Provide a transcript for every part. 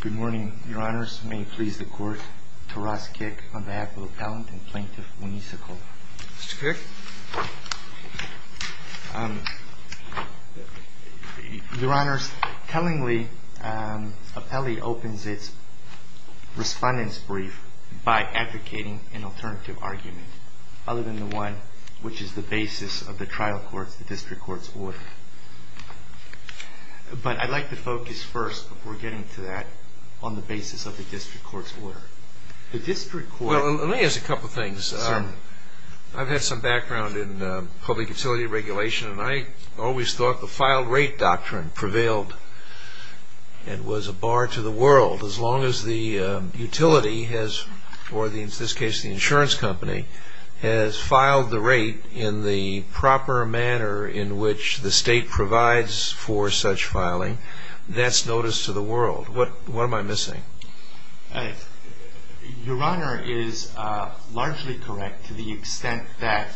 Good morning, Your Honors. May it please the Court, Taras Kik, on behalf of Appellant and Plaintiff Winesa Cole. Mr. Kik? Your Honors, tellingly, Appellee opens its Respondent's Brief by advocating an alternative argument, other than the one which is the basis of the trial court's, the District Court's, order. But I'd like to focus first, before getting to that, on the basis of the District Court's order. The District Court... Well, let me ask a couple of things. Certainly. I've had some background in public utility regulation, and I always thought the filed rate doctrine prevailed and was a bar to the world, as long as the utility has, or in this case, the insurance company, has filed the rate in the proper manner in which the State provides for such filing. That's notice to the world. What am I missing? Your Honor is largely correct to the extent that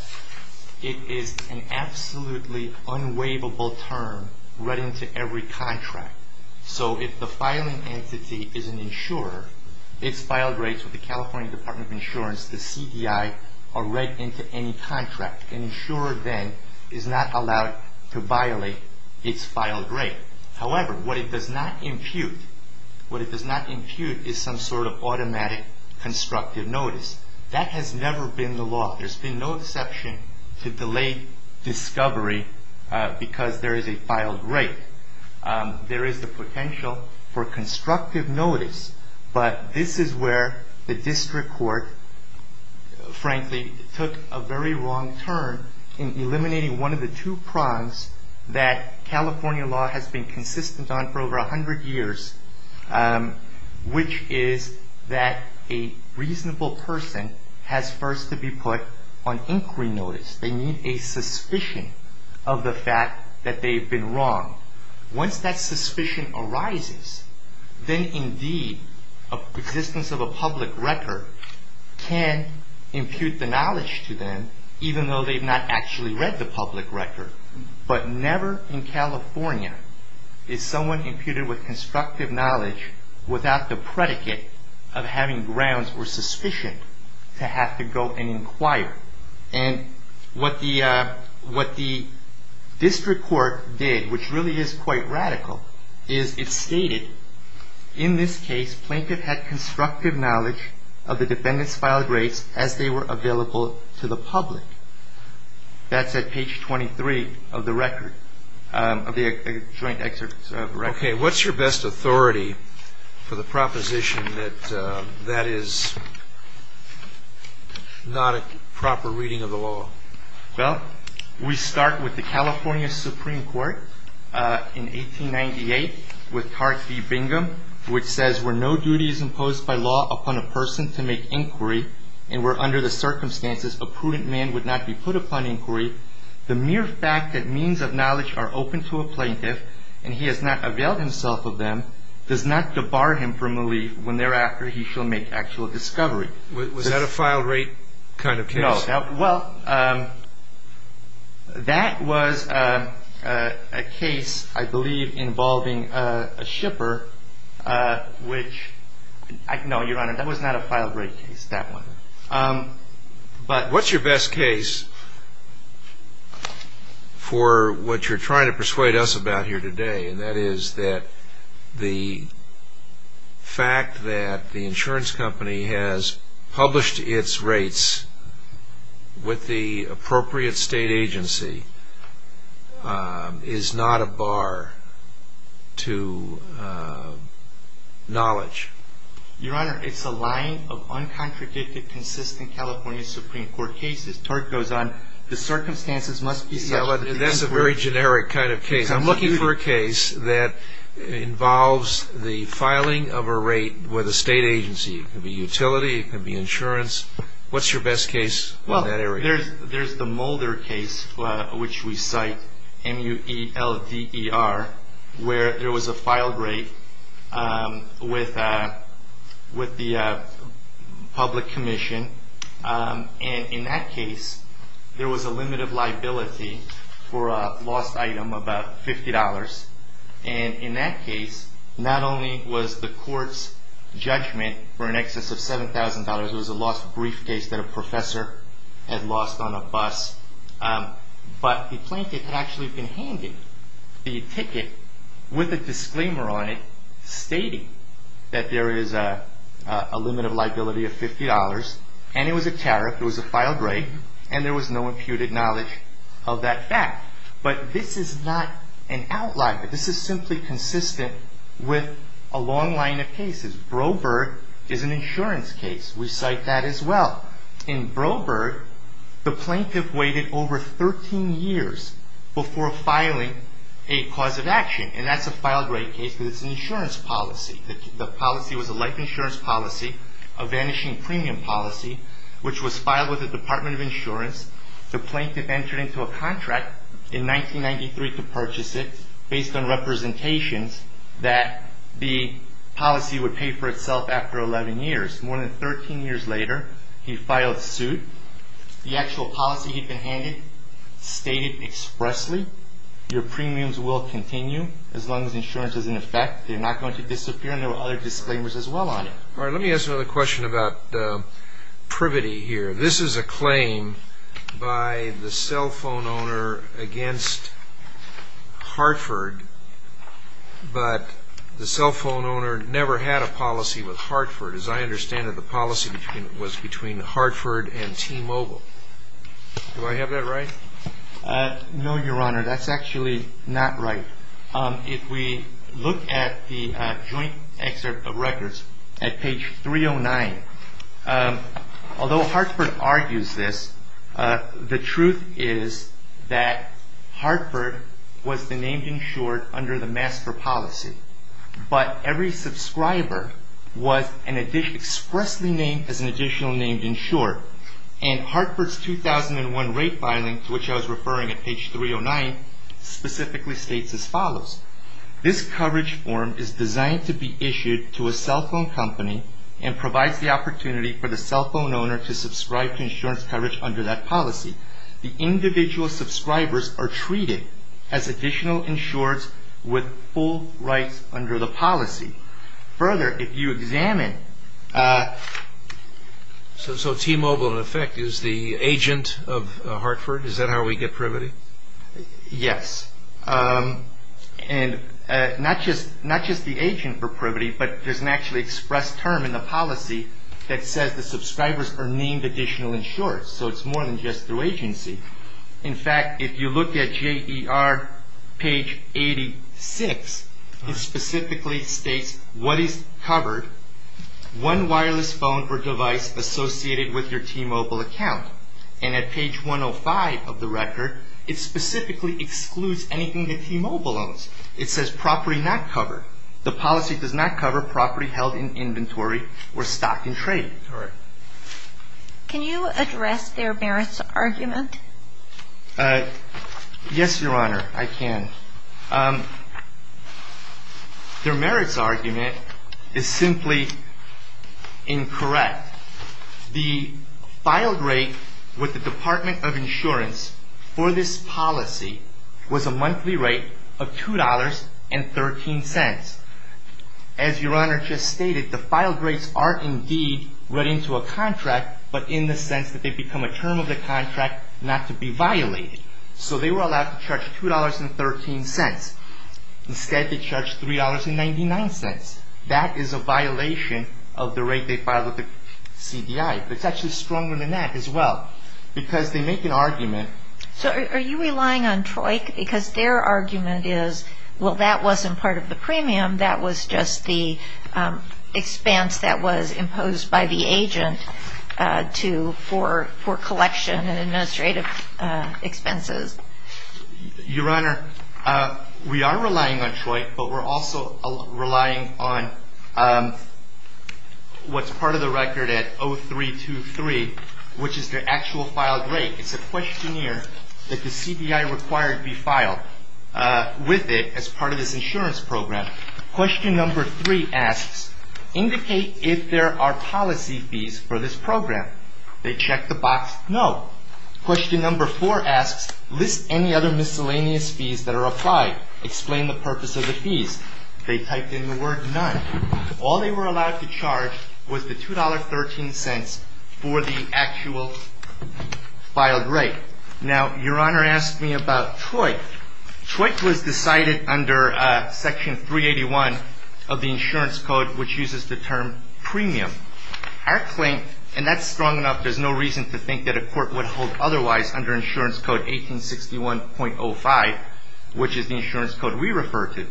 it is an absolutely unwaivable term read into every contract. So if the filing entity is an insurer, its filed rates with the California Department of Insurance, the CDI, are read into any contract. An insurer, then, is not allowed to violate its filed rate. However, what it does not impute is some sort of automatic constructive notice. That has never been the law. There's been no deception to delay discovery because there is a filed rate. There is the potential for constructive notice. But this is where the District Court, frankly, took a very wrong turn in eliminating one of the two prongs that California law has been consistent on for over 100 years, which is that a reasonable person has first to be put on inquiry notice. They need a suspicion of the fact that they've been wrong. Once that suspicion arises, then, indeed, the existence of a public record can impute the knowledge to them, even though they've not actually read the public record. But never in California is someone imputed with constructive knowledge without the predicate of having grounds or suspicion to have to go and inquire. And what the District Court did, which really is quite radical, is it stated, in this case, Plaintiff had constructive knowledge of the defendant's filed rates as they were available to the public. That's at page 23 of the record, of the joint excerpt of the record. OK, what's your best authority for the proposition that that is not a proper reading of the law? Well, we start with the California Supreme Court in 1898 with Tart v. Bingham, which says, Where no duty is imposed by law upon a person to make inquiry, and where under the circumstances a prudent man would not be put upon inquiry, the mere fact that means of knowledge are open to a plaintiff, and he has not availed himself of them, does not debar him from relief when thereafter he shall make actual discovery. Was that a file rate kind of case? No. Well, that was a case, I believe, involving a shipper, which, no, Your Honor, that was not a file rate case, that one. But what's your best case for what you're trying to persuade us about here today, and that is that the fact that the insurance company has published its rates with the appropriate state agency is not a bar to knowledge? Your Honor, it's a line of uncontradicted, consistent California Supreme Court cases. Tart goes on, The circumstances must be such that the inquiry That's a very generic kind of case. I'm looking for a case that involves the filing of a rate with a state agency. It could be utility, it could be insurance. What's your best case in that area? There's the Mulder case, which we cite, M-U-E-L-D-E-R, where there was a file rate with the public commission. And in that case, there was a limit of liability for a lost item of about $50. And in that case, not only was the court's judgment for an excess of $7,000, it was a lost briefcase that a professor had lost on a bus. But the plaintiff had actually been handed the ticket with a disclaimer on it stating that there is a limit of liability of $50. And it was a tariff, it was a filed rate, and there was no imputed knowledge of that fact. But this is not an outlier. This is simply consistent with a long line of cases. Broberg is an insurance case. We cite that as well. In Broberg, the plaintiff waited over 13 years before filing a cause of action. And that's a filed rate case, but it's an insurance policy. The policy was a life insurance policy, a vanishing premium policy, which was filed with the Department of Insurance. The plaintiff entered into a contract in 1993 to purchase it based on representations that the policy would pay for itself after 11 years. More than 13 years later, he filed suit. The actual policy he'd been handed stated expressly, your premiums will continue as long as insurance is in effect. They're not going to disappear, and there were other disclaimers as well on it. All right, let me ask another question about privity here. This is a claim by the cell phone owner against Hartford, but the cell phone owner never had a policy with Hartford. As I understand it, the policy was between Hartford and T-Mobile. Do I have that right? No, Your Honor, that's actually not right. If we look at the joint excerpt of records at page 309, although Hartford argues this, the truth is that Hartford was the named insured under the master policy. But every subscriber was expressly named as an additional named insured. And Hartford's 2001 rate filing, to which I was referring at page 309, specifically states as follows. This coverage form is designed to be issued to a cell phone company and provides the opportunity for the cell phone owner to subscribe to insurance coverage under that policy. The individual subscribers are treated as additional insureds with full rights under the policy. Further, if you examine... So T-Mobile, in effect, is the agent of Hartford? Is that how we get privity? Yes. And not just the agent for privity, but there's an actually expressed term in the policy that says the subscribers are named additional insureds. So it's more than just through agency. In fact, if you look at JER page 86, it specifically states what is covered. One wireless phone or device associated with your T-Mobile account. And at page 105 of the record, it specifically excludes anything that T-Mobile owns. It says property not covered. The policy does not cover property held in inventory or stock in trade. Correct. Can you address their merits argument? Yes, Your Honor, I can. Their merits argument is simply incorrect. The filed rate with the Department of Insurance for this policy was a monthly rate of $2.13. As Your Honor just stated, the filed rates are indeed read into a contract, but in the sense that they become a term of the contract not to be violated. So they were allowed to charge $2.13. Instead, they charged $3.99. That is a violation of the rate they filed with the CDI. It's actually stronger than that as well, because they make an argument... that was just the expense that was imposed by the agent for collection and administrative expenses. Your Honor, we are relying on TROIT, but we're also relying on what's part of the record at 0323, which is their actual filed rate. It's a questionnaire that the CDI required to be filed with it as part of this insurance program. Question number three asks, indicate if there are policy fees for this program. They check the box, no. Question number four asks, list any other miscellaneous fees that are applied. Explain the purpose of the fees. They typed in the word none. All they were allowed to charge was the $2.13 for the actual filed rate. Now, Your Honor asked me about TROIT. TROIT was decided under section 381 of the insurance code, which uses the term premium. Our claim, and that's strong enough, there's no reason to think that a court would hold otherwise under insurance code 1861.05, which is the insurance code we refer to.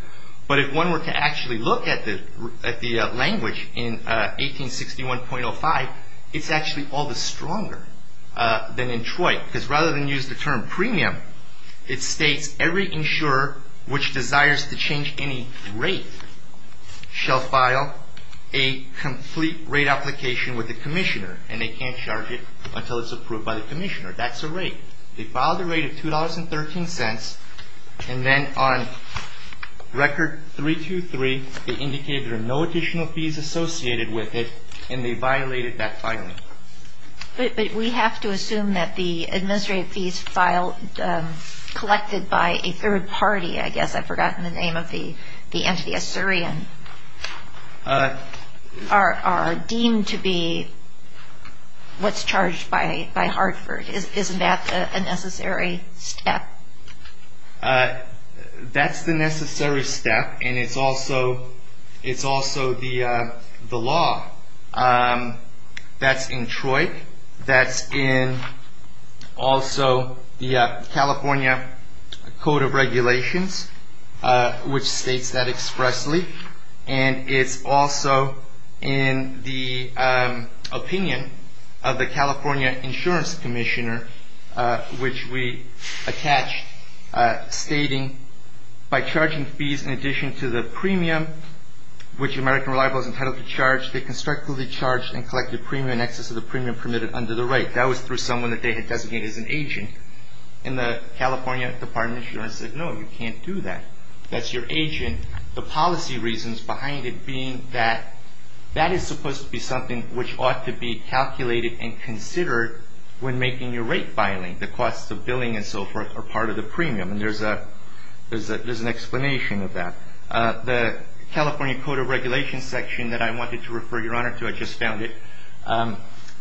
But if one were to actually look at the language in 1861.05, it's actually all the stronger than in TROIT, because rather than use the term premium, it states every insurer which desires to change any rate shall file a complete rate application with the commissioner, and they can't charge it until it's approved by the commissioner. That's a rate. They filed a rate of $2.13, and then on record 323, they indicated there are no additional fees associated with it, and they violated that filing. But we have to assume that the administrative fees collected by a third party, I guess, I've forgotten the name of the entity, a Syrian, are deemed to be what's charged by Hartford. Isn't that a necessary step? That's the necessary step, and it's also the law. That's in TROIT. That's in also the California Code of Regulations, which states that expressly. And it's also in the opinion of the California Insurance Commissioner, which we attach stating, by charging fees in addition to the premium, which American Reliable is entitled to charge, they constructively charge and collect the premium in excess of the premium permitted under the rate. That was through someone that they had designated as an agent. And the California Department of Insurance said, no, you can't do that. That's your agent. And the policy reasons behind it being that that is supposed to be something which ought to be calculated and considered when making your rate filing. The cost of billing and so forth are part of the premium, and there's an explanation of that. The California Code of Regulations section that I wanted to refer your Honor to, I just found it,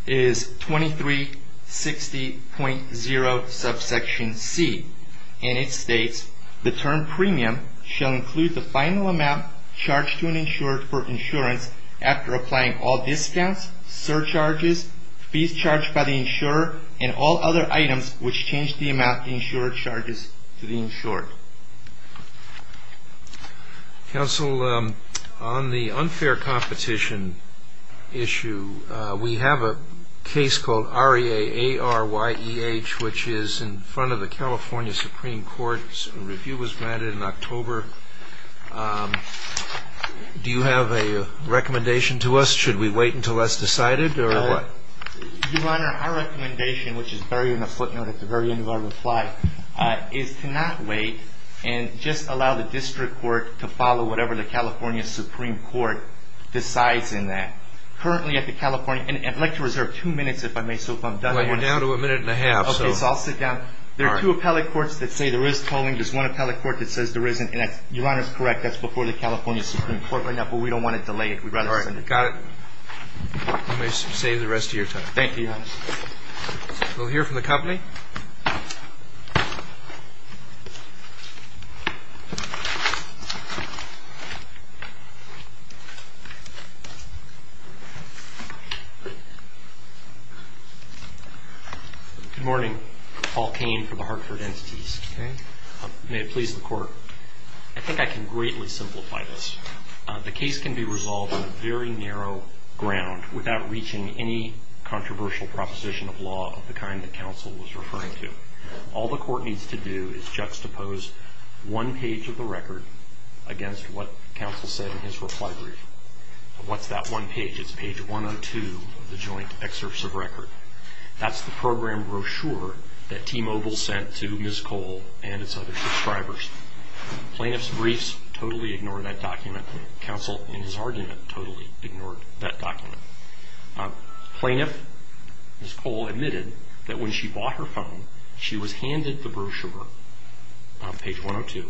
is 2360.0 subsection C. And it states, the term premium shall include the final amount charged to an insurer for insurance after applying all discounts, surcharges, fees charged by the insurer, and all other items which change the amount the insurer charges to the insured. Counsel, on the unfair competition issue, we have a case called R.E.A.A.R.Y.E.H., which is in front of the California Supreme Court. A review was granted in October. Do you have a recommendation to us? Should we wait until that's decided, or what? Your Honor, our recommendation, which is buried in the footnote at the very end of our reply, is to not wait and just allow the district court to follow whatever the California Supreme Court decides in that. Currently at the California, and I'd like to reserve two minutes if I may, so if I'm done. We're down to a minute and a half. Okay, so I'll sit down. There are two appellate courts that say there is tolling. There's one appellate court that says there isn't. Your Honor's correct. That's before the California Supreme Court right now, but we don't want to delay it. We'd rather send it. All right, got it. You may save the rest of your time. Thank you, Your Honor. We'll hear from the company. Good morning. Paul Kane for the Hartford Entities. Okay. May it please the Court, I think I can greatly simplify this. The case can be resolved on a very narrow ground without reaching any controversial proposition of law of the kind that counsel was referring to. All the court needs to do is juxtapose one page of the record against what counsel said in his reply brief. What's that one page? It's page 102 of the joint excerpts of record. That's the program brochure that T-Mobile sent to Ms. Cole and its other subscribers. Plaintiff's briefs totally ignored that document. Counsel, in his argument, totally ignored that document. Plaintiff, Ms. Cole admitted that when she bought her phone, she was handed the brochure, page 102,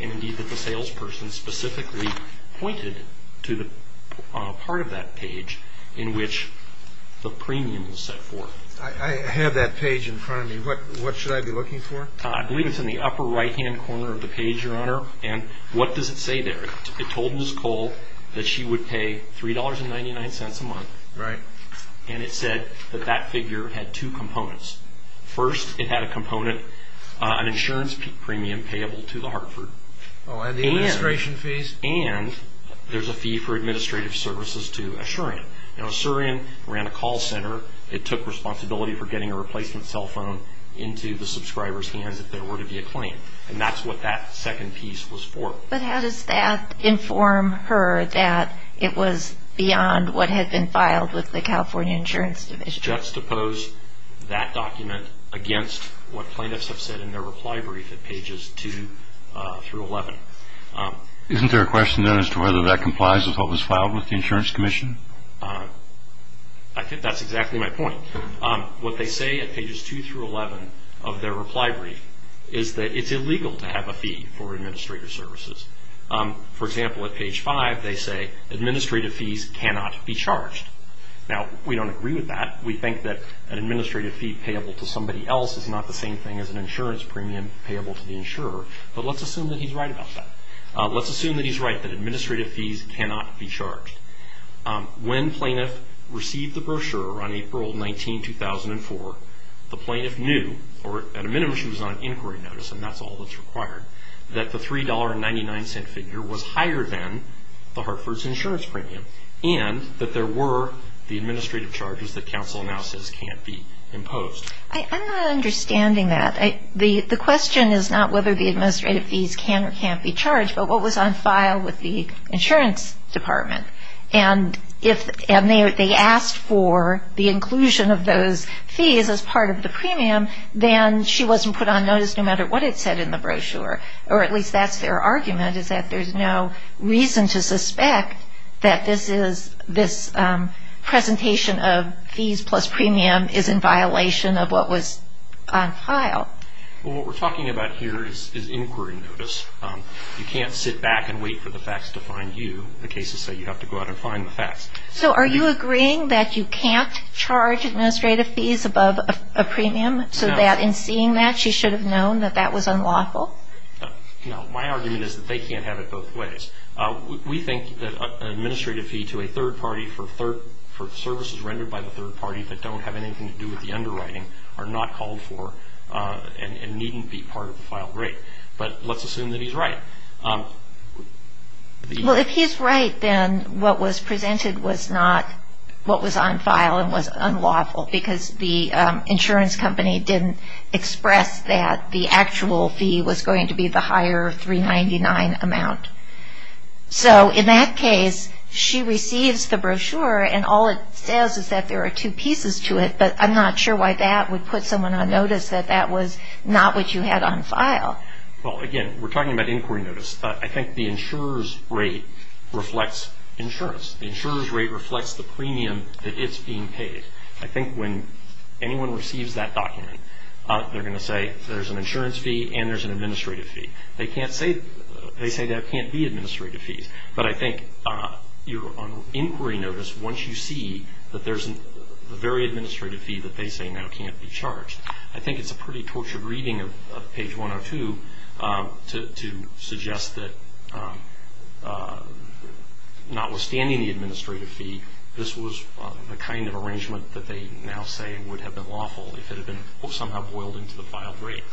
and indeed that the salesperson specifically pointed to the part of that page in which the premium was set for. I have that page in front of me. What should I be looking for? I believe it's in the upper right-hand corner of the page, Your Honor. And what does it say there? It told Ms. Cole that she would pay $3.99 a month. Right. And it said that that figure had two components. First, it had a component, an insurance premium payable to the Hartford. Oh, and the administration fees? And there's a fee for administrative services to Assurian. You know, Assurian ran a call center. It took responsibility for getting a replacement cell phone into the subscriber's hands if there were to be a claim, and that's what that second piece was for. But how does that inform her that it was beyond what had been filed with the California Insurance Commission? It's juxtaposed that document against what plaintiffs have said in their reply brief at pages 2 through 11. Isn't there a question then as to whether that complies with what was filed with the Insurance Commission? I think that's exactly my point. What they say at pages 2 through 11 of their reply brief is that it's illegal to have a fee for administrative services. For example, at page 5, they say administrative fees cannot be charged. Now, we don't agree with that. We think that an administrative fee payable to somebody else is not the same thing as an insurance premium payable to the insurer. But let's assume that he's right about that. Let's assume that he's right that administrative fees cannot be charged. When plaintiff received the brochure on April 19, 2004, the plaintiff knew, or at a minimum she was on inquiry notice and that's all that's required, that the $3.99 figure was higher than the Hartford's insurance premium and that there were the administrative charges that counsel now says can't be imposed. I'm not understanding that. The question is not whether the administrative fees can or can't be charged, but what was on file with the insurance department. And if they asked for the inclusion of those fees as part of the premium, then she wasn't put on notice no matter what it said in the brochure, or at least that's their argument, is that there's no reason to suspect that this presentation of fees plus premium is in violation of what was on file. Well, what we're talking about here is inquiry notice. You can't sit back and wait for the facts to find you. The cases say you have to go out and find the facts. So are you agreeing that you can't charge administrative fees above a premium, so that in seeing that she should have known that that was unlawful? No, my argument is that they can't have it both ways. We think that an administrative fee to a third party for services rendered by the third party that don't have anything to do with the underwriting are not called for and needn't be part of the file rate. But let's assume that he's right. Well, if he's right, then what was presented was not what was on file and was unlawful because the insurance company didn't express that the actual fee was going to be the higher 399 amount. So in that case, she receives the brochure and all it says is that there are two pieces to it, but I'm not sure why that would put someone on notice that that was not what you had on file. Well, again, we're talking about inquiry notice. I think the insurer's rate reflects insurance. The insurer's rate reflects the premium that is being paid. I think when anyone receives that document, they're going to say there's an insurance fee and there's an administrative fee. They say there can't be administrative fees, but I think on inquiry notice, once you see that there's a very administrative fee that they say now can't be charged, I think it's a pretty tortured reading of page 102 to suggest that notwithstanding the administrative fee, this was the kind of arrangement that they now say would have been lawful if it had been somehow boiled into the filed rate.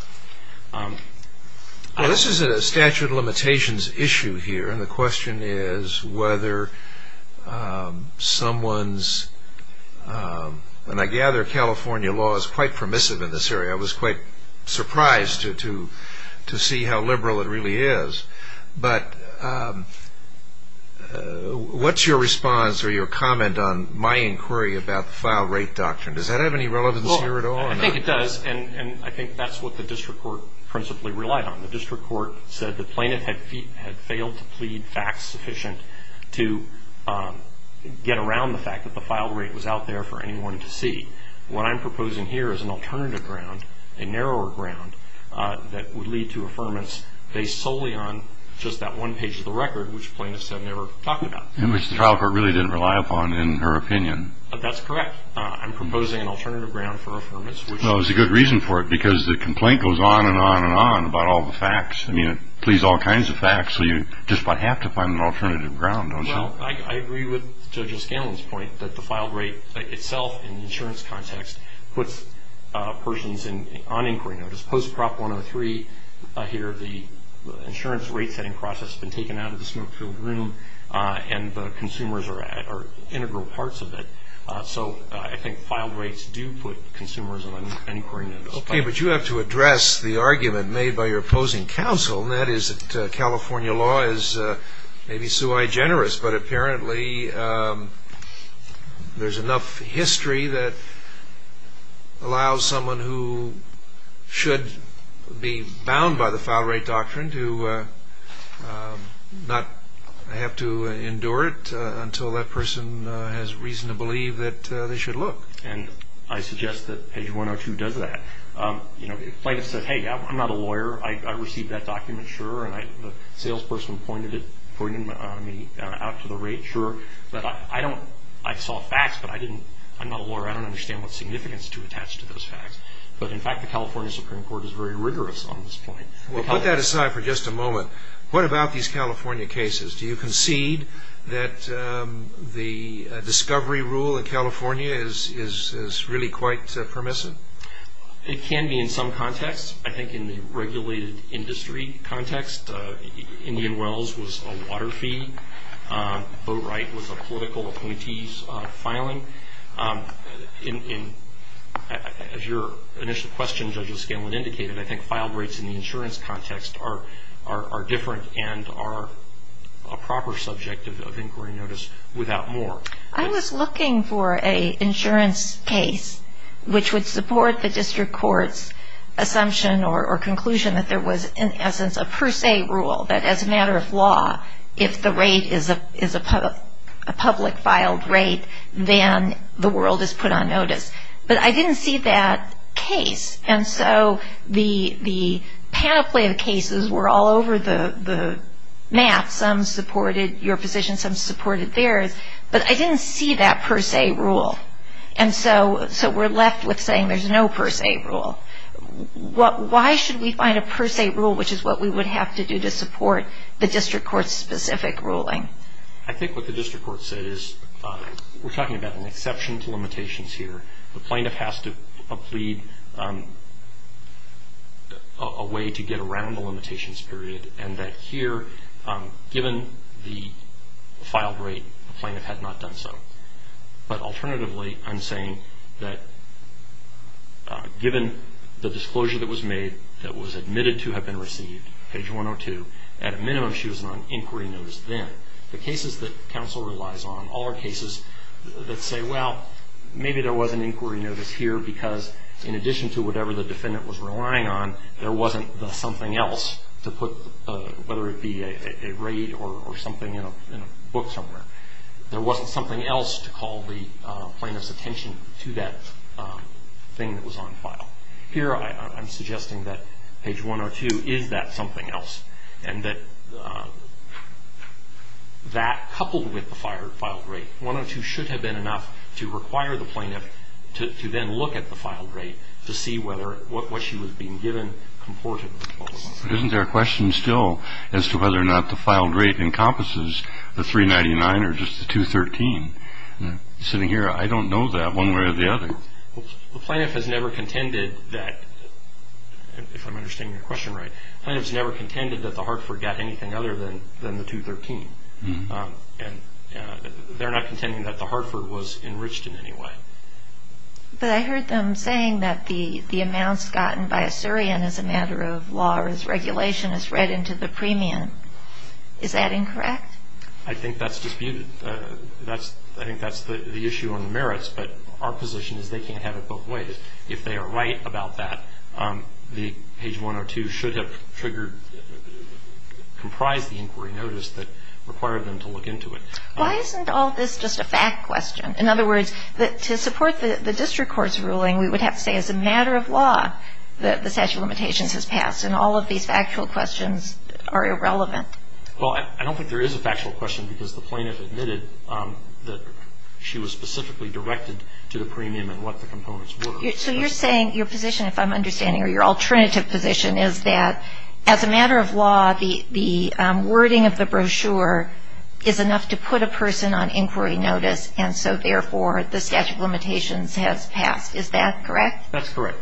Well, this is a statute of limitations issue here, and the question is whether someone's, and I gather California law is quite permissive in this area. I was quite surprised to see how liberal it really is. But what's your response or your comment on my inquiry about the filed rate doctrine? Does that have any relevance here at all? I think it does, and I think that's what the district court principally relied on. The district court said the plaintiff had failed to plead facts sufficient to get around the fact that the filed rate was out there for anyone to see. What I'm proposing here is an alternative ground, a narrower ground, that would lead to affirmance based solely on just that one page of the record, which the plaintiff said they were talking about. Which the trial court really didn't rely upon in her opinion. That's correct. I'm proposing an alternative ground for affirmance. Well, there's a good reason for it, because the complaint goes on and on and on about all the facts. I mean, it pleads all kinds of facts, so you just about have to find an alternative ground, don't you? Well, I agree with Judge Scanlon's point that the filed rate itself in the insurance context puts persons on inquiry notice. Post Prop 103 here, the insurance rate-setting process has been taken out of the smoke-filled room, and the consumers are integral parts of it. So I think filed rates do put consumers on inquiry notice. Okay, but you have to address the argument made by your opposing counsel, and that is that California law is maybe sui generis, but apparently there's enough history that allows someone who should be bound by the filed rate doctrine to not have to endure it until that person has reason to believe that they should look. And I suggest that page 102 does that. You know, the plaintiff says, hey, I'm not a lawyer, I received that document, sure, and the salesperson pointed it out to the rate, sure. But I saw facts, but I'm not a lawyer. I don't understand what significance to attach to those facts. But in fact, the California Supreme Court is very rigorous on this point. Well, put that aside for just a moment. What about these California cases? Do you concede that the discovery rule in California is really quite permissive? It can be in some context. I think in the regulated industry context, Indian Wells was a water fee. Boatwright was a political appointee's filing. As your initial question, Judge O'Scanlan, indicated, I think filed rates in the insurance context are different and are a proper subject of inquiry notice without more. I was looking for an insurance case which would support the district court's assumption or conclusion that there was, in essence, a per se rule, that as a matter of law, if the rate is a public filed rate, then the world is put on notice. But I didn't see that case. And so the panoply of cases were all over the map. Some supported your position, some supported theirs. But I didn't see that per se rule. And so we're left with saying there's no per se rule. Why should we find a per se rule, which is what we would have to do to support the district court's specific ruling? I think what the district court said is we're talking about an exception to limitations here. The plaintiff has to plead a way to get around the limitations period, and that here, given the filed rate, the plaintiff had not done so. But alternatively, I'm saying that given the disclosure that was made, that was admitted to have been received, page 102, at a minimum she was on inquiry notice then. The cases that counsel relies on all are cases that say, well, maybe there was an inquiry notice here because in addition to whatever the defendant was relying on, there wasn't the something else to put, whether it be a rate or something in a book somewhere. There wasn't something else to call the plaintiff's attention to that thing that was on file. Here I'm suggesting that page 102 is that something else, and that coupled with the filed rate, 102 should have been enough to require the plaintiff to then look at the filed rate to see whether what she was being given comported. Isn't there a question still as to whether or not the filed rate encompasses the 399 or just the 213? Sitting here, I don't know that one way or the other. The plaintiff has never contended that, if I'm understanding your question right, the plaintiff has never contended that the Hartford got anything other than the 213. They're not contending that the Hartford was enriched in any way. But I heard them saying that the amounts gotten by a Syrian as a matter of law or as regulation is read into the premium. Is that incorrect? I think that's disputed. I think that's the issue on the merits, but our position is they can't have it both ways. If they are right about that, the page 102 should have triggered, comprised the inquiry notice that required them to look into it. Why isn't all this just a fact question? In other words, to support the district court's ruling, we would have to say as a matter of law that the statute of limitations has passed, and all of these factual questions are irrelevant. Well, I don't think there is a factual question because the plaintiff admitted that she was specifically directed to the premium and what the components were. So you're saying your position, if I'm understanding, or your alternative position, is that as a matter of law, the wording of the brochure is enough to put a person on inquiry notice and so, therefore, the statute of limitations has passed. Is that correct? That's correct.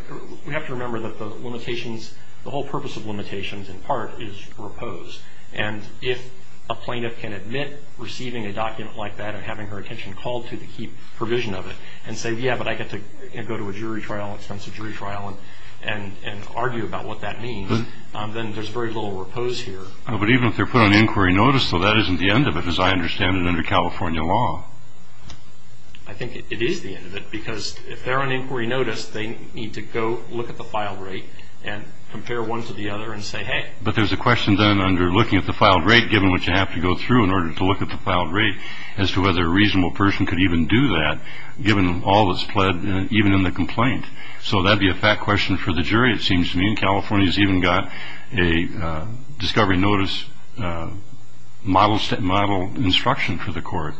We have to remember that the limitations, the whole purpose of limitations, in part, is repose. And if a plaintiff can admit receiving a document like that and having her attention called to the key provision of it and say, yeah, but I get to go to a jury trial, extensive jury trial, and argue about what that means, then there's very little repose here. But even if they're put on inquiry notice, though, that isn't the end of it, as I understand it under California law. I think it is the end of it because if they're on inquiry notice, they need to go look at the filed rate and compare one to the other and say, hey. But there's a question then under looking at the filed rate, given what you have to go through in order to look at the filed rate, as to whether a reasonable person could even do that, given all that's pled, even in the complaint. California's even got a discovery notice model instruction for the court.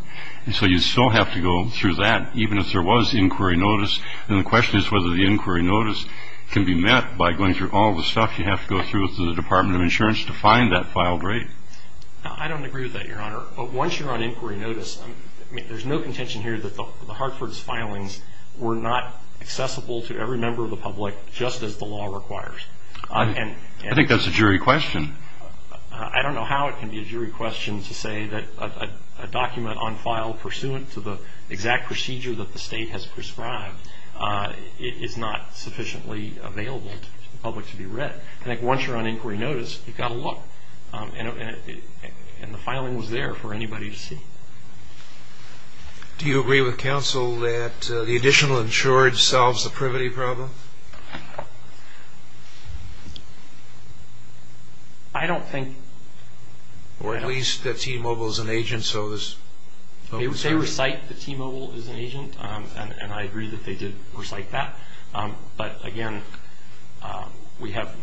And so you still have to go through that, even if there was inquiry notice. And the question is whether the inquiry notice can be met by going through all the stuff you have to go through with the Department of Insurance to find that filed rate. I don't agree with that, Your Honor. But once you're on inquiry notice, there's no contention here that the Hartford's filings were not accessible to every member of the public, just as the law requires. I think that's a jury question. I don't know how it can be a jury question to say that a document on file, pursuant to the exact procedure that the state has prescribed, is not sufficiently available to the public to be read. I think once you're on inquiry notice, you've got to look. And the filing was there for anybody to see. Do you agree with counsel that the additional insurance solves the privity problem? I don't think. Or at least that T-Mobile is an agent, so there's no concern. They recite that T-Mobile is an agent, and I agree that they did recite that. But, again, we have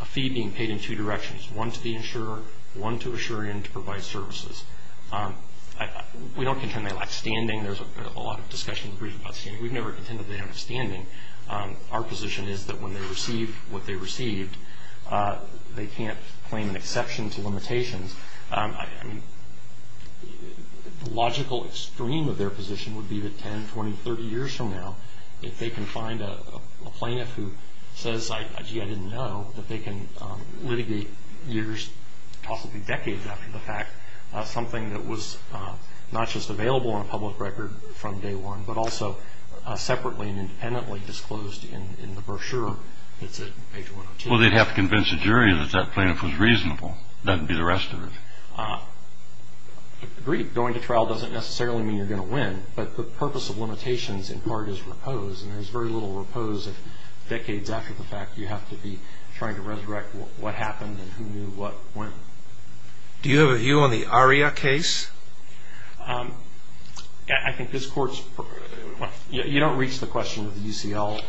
a fee being paid in two directions, one to the insurer, one to assure in to provide services. We don't contend they lack standing. There's a lot of discussion about standing. We've never contended they have standing. Our position is that when they receive what they received, they can't claim an exception to limitations. I mean, the logical extreme of their position would be that 10, 20, 30 years from now, if they can find a plaintiff who says, gee, I didn't know, that they can litigate years, possibly decades after the fact, something that was not just available on a public record from day one, but also separately and independently disclosed in the brochure that's at page 102. Well, they'd have to convince the jury that that plaintiff was reasonable. That would be the rest of it. Agreed. Going to trial doesn't necessarily mean you're going to win. But the purpose of limitations in part is repose, and there's very little repose if decades after the fact you have to be trying to resurrect what happened and who knew what went. Do you have a view on the ARIA case? I think this Court's – you don't reach the question of the UCL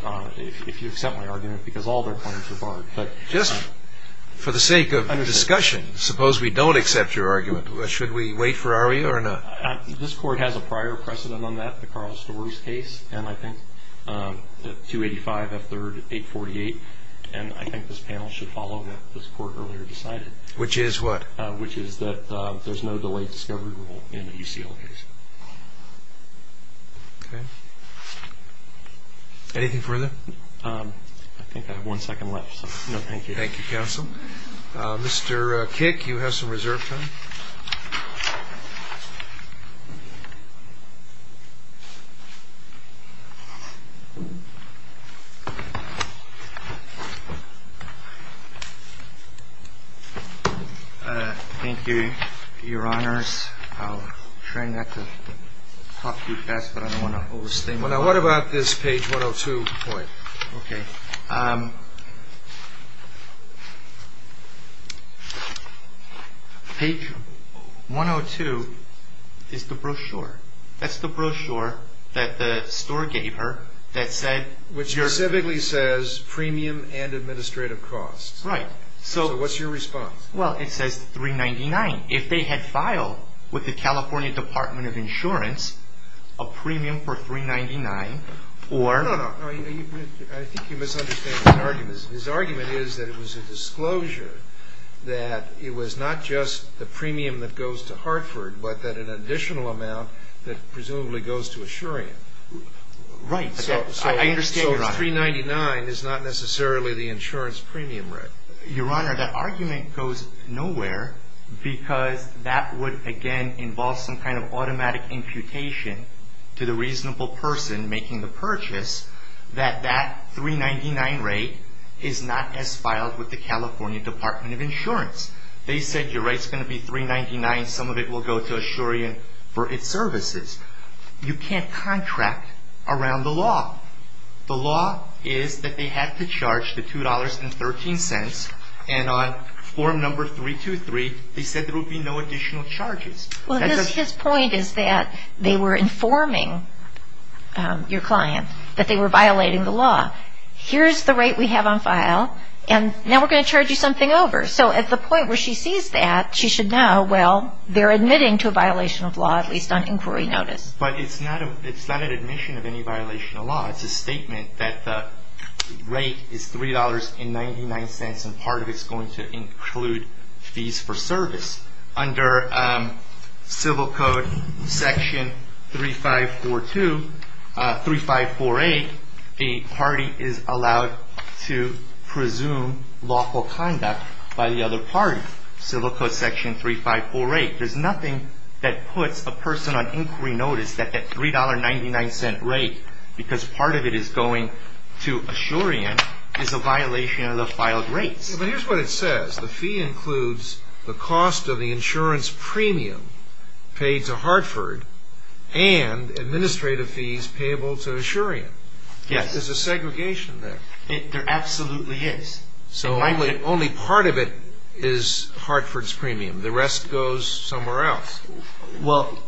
if you accept my argument, because all their claims are barred. Just for the sake of discussion, suppose we don't accept your argument. Should we wait for ARIA or not? This Court has a prior precedent on that, the Carl Storys case, and I think the 285, F3rd, 848. And I think this panel should follow what this Court earlier decided. Which is what? Which is that there's no delayed discovery rule in the UCL case. Okay. Anything further? I think I have one second left, so no thank you. Thank you, counsel. Mr. Kick, you have some reserve time. Thank you, Your Honors. I'll try not to talk too fast, but I don't want to overstay my welcome. What about this page 102? Okay. Page 102 is the brochure. That's the brochure that the store gave her that said – Which specifically says premium and administrative costs. Right. So what's your response? Well, it says $399. If they had filed with the California Department of Insurance a premium for $399 or – No, no, no. I think you misunderstand his argument. His argument is that it was a disclosure that it was not just the premium that goes to Hartford, but that an additional amount that presumably goes to Assurian. Right. I understand, Your Honor. So $399 is not necessarily the insurance premium, right? Your Honor, that argument goes nowhere because that would, again, involve some kind of automatic imputation to the reasonable person making the purchase that that $399 rate is not as filed with the California Department of Insurance. They said your rate's going to be $399. Some of it will go to Assurian for its services. You can't contract around the law. The law is that they have to charge the $2.13. And on form number 323, they said there would be no additional charges. Well, his point is that they were informing your client that they were violating the law. Here's the rate we have on file, and now we're going to charge you something over. So at the point where she sees that, she should know, well, they're admitting to a violation of law, at least on inquiry notice. It's a statement that the rate is $3.99, and part of it's going to include fees for service. Under Civil Code Section 3548, the party is allowed to presume lawful conduct by the other party. Civil Code Section 3548, there's nothing that puts a person on inquiry notice that that $3.99 rate, because part of it is going to Assurian, is a violation of the filed rates. But here's what it says. The fee includes the cost of the insurance premium paid to Hartford and administrative fees payable to Assurian. Yes. There's a segregation there. There absolutely is. So only part of it is Hartford's premium. The rest goes somewhere else. Well,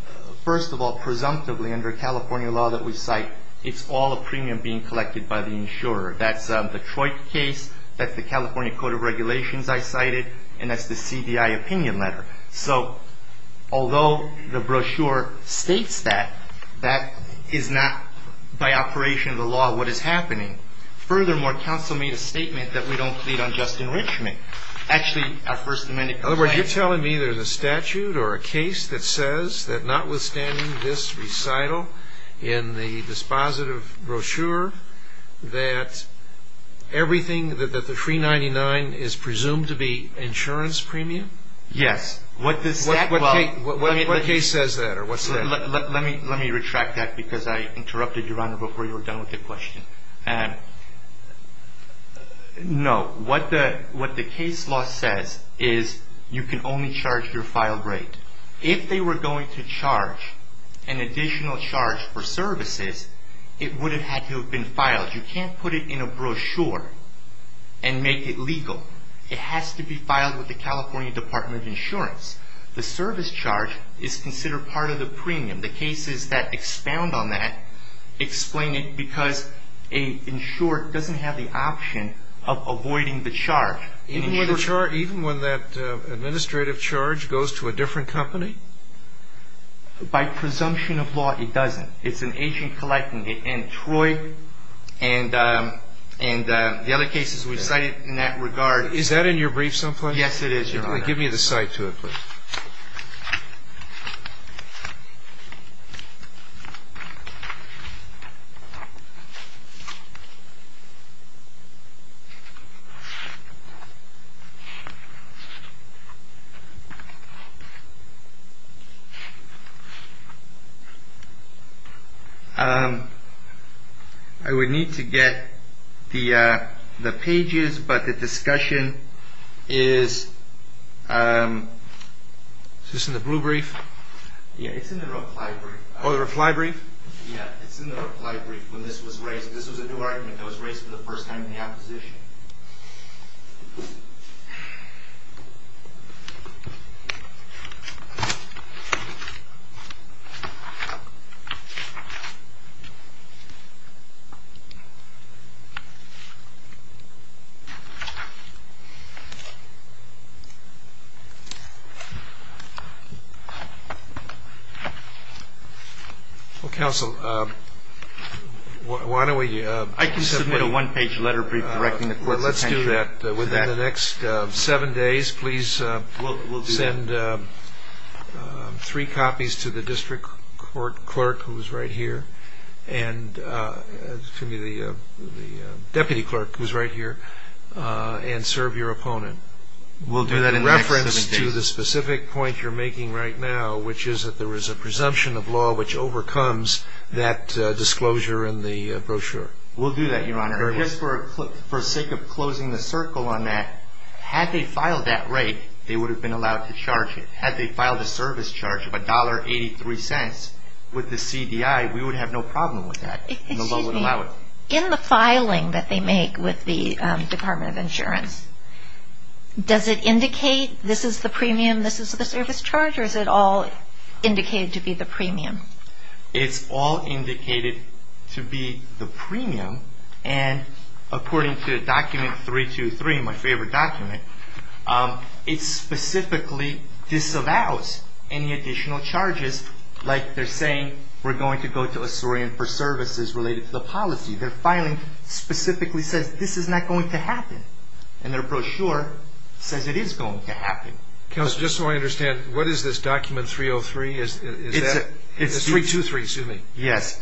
first of all, presumptively under California law that we cite, it's all a premium being collected by the insurer. That's the Troit case. That's the California Code of Regulations I cited, and that's the CDI opinion letter. So although the brochure states that, that is not by operation of the law what is happening. Furthermore, counsel made a statement that we don't plead on just enrichment. In other words, you're telling me there's a statute or a case that says that notwithstanding this recital in the dispositive brochure, that everything that the $3.99 is presumed to be insurance premium? Yes. What case says that or what's that? Let me retract that because I interrupted, Your Honor, before you were done with the question. No. What the case law says is you can only charge your filed rate. If they were going to charge an additional charge for services, it would have had to have been filed. You can't put it in a brochure and make it legal. It has to be filed with the California Department of Insurance. The service charge is considered part of the premium. The cases that expound on that explain it because an insurer doesn't have the option of avoiding the charge. Even when that administrative charge goes to a different company? By presumption of law, it doesn't. It's an agent-collecting. And Troy and the other cases we cited in that regard. Is that in your brief someplace? Yes, it is, Your Honor. Give me the cite to it, please. I would need to get the the pages. But the discussion is, is this in the blue brief? Yeah, it's in the reply brief. Oh, the reply brief? Yeah, it's in the reply brief when this was raised. Well, counsel, why don't we... I can submit a one-page letter brief directing the court's attention to that. Let's do that. Within the next seven days, please send three copies to the district court clerk, who is right here, and the deputy clerk, who is right here, and serve your opponent. We'll do that in the next seven days. With reference to the specific point you're making right now, which is that there is a presumption of law which overcomes that disclosure in the brochure. We'll do that, Your Honor. For the sake of closing the circle on that, had they filed that rate, they would have been allowed to charge it. Had they filed a service charge of $1.83 with the CDI, we would have no problem with that, and the law would allow it. Excuse me. In the filing that they make with the Department of Insurance, does it indicate this is the premium, this is the service charge, or is it all indicated to be the premium? It's all indicated to be the premium, and according to document 323, my favorite document, it specifically disallows any additional charges, like they're saying we're going to go to Assyrian for services related to the policy. Their filing specifically says this is not going to happen, and their brochure says it is going to happen. Counselor, just so I understand, what is this document 303? It's 323, excuse me. Yes.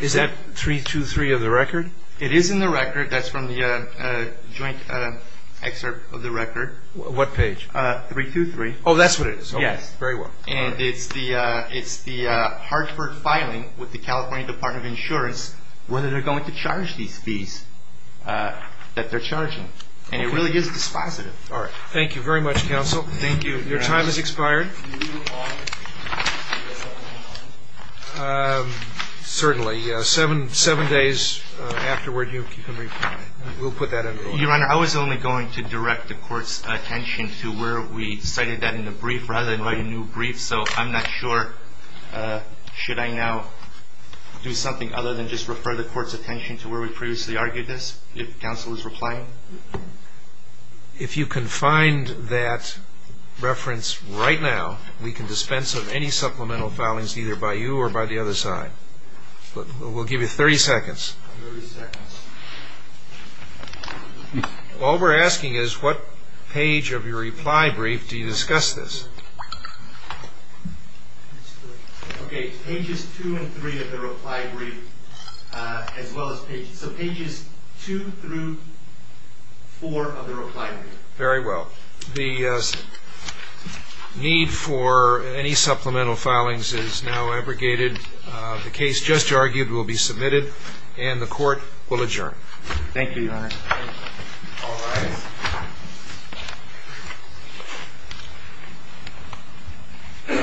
Is that 323 of the record? It is in the record. That's from the joint excerpt of the record. What page? 323. Oh, that's what it is. Yes. Very well. And it's the Hartford filing with the California Department of Insurance whether they're going to charge these fees that they're charging, and it really is dispositive. Thank you very much, Counsel. Thank you. Your time has expired. Certainly. Seven days afterward, you can reply. We'll put that in. Your Honor, I was only going to direct the Court's attention to where we cited that in the brief rather than write a new brief, so I'm not sure should I now do something other than just refer the Court's attention to where we previously argued this, if Counsel is replying? If you can find that reference right now, we can dispense of any supplemental filings either by you or by the other side. We'll give you 30 seconds. All we're asking is what page of your reply brief do you discuss this? Okay, pages 2 and 3 of the reply brief as well as pages 2 through 4 of the reply brief. Very well. The need for any supplemental filings is now abrogated. The case just argued will be submitted, and the Court will adjourn. Thank you, Your Honor. All rise. Thank you, Your Honor. Thank you, Your Honor. Thank you, Your Honor.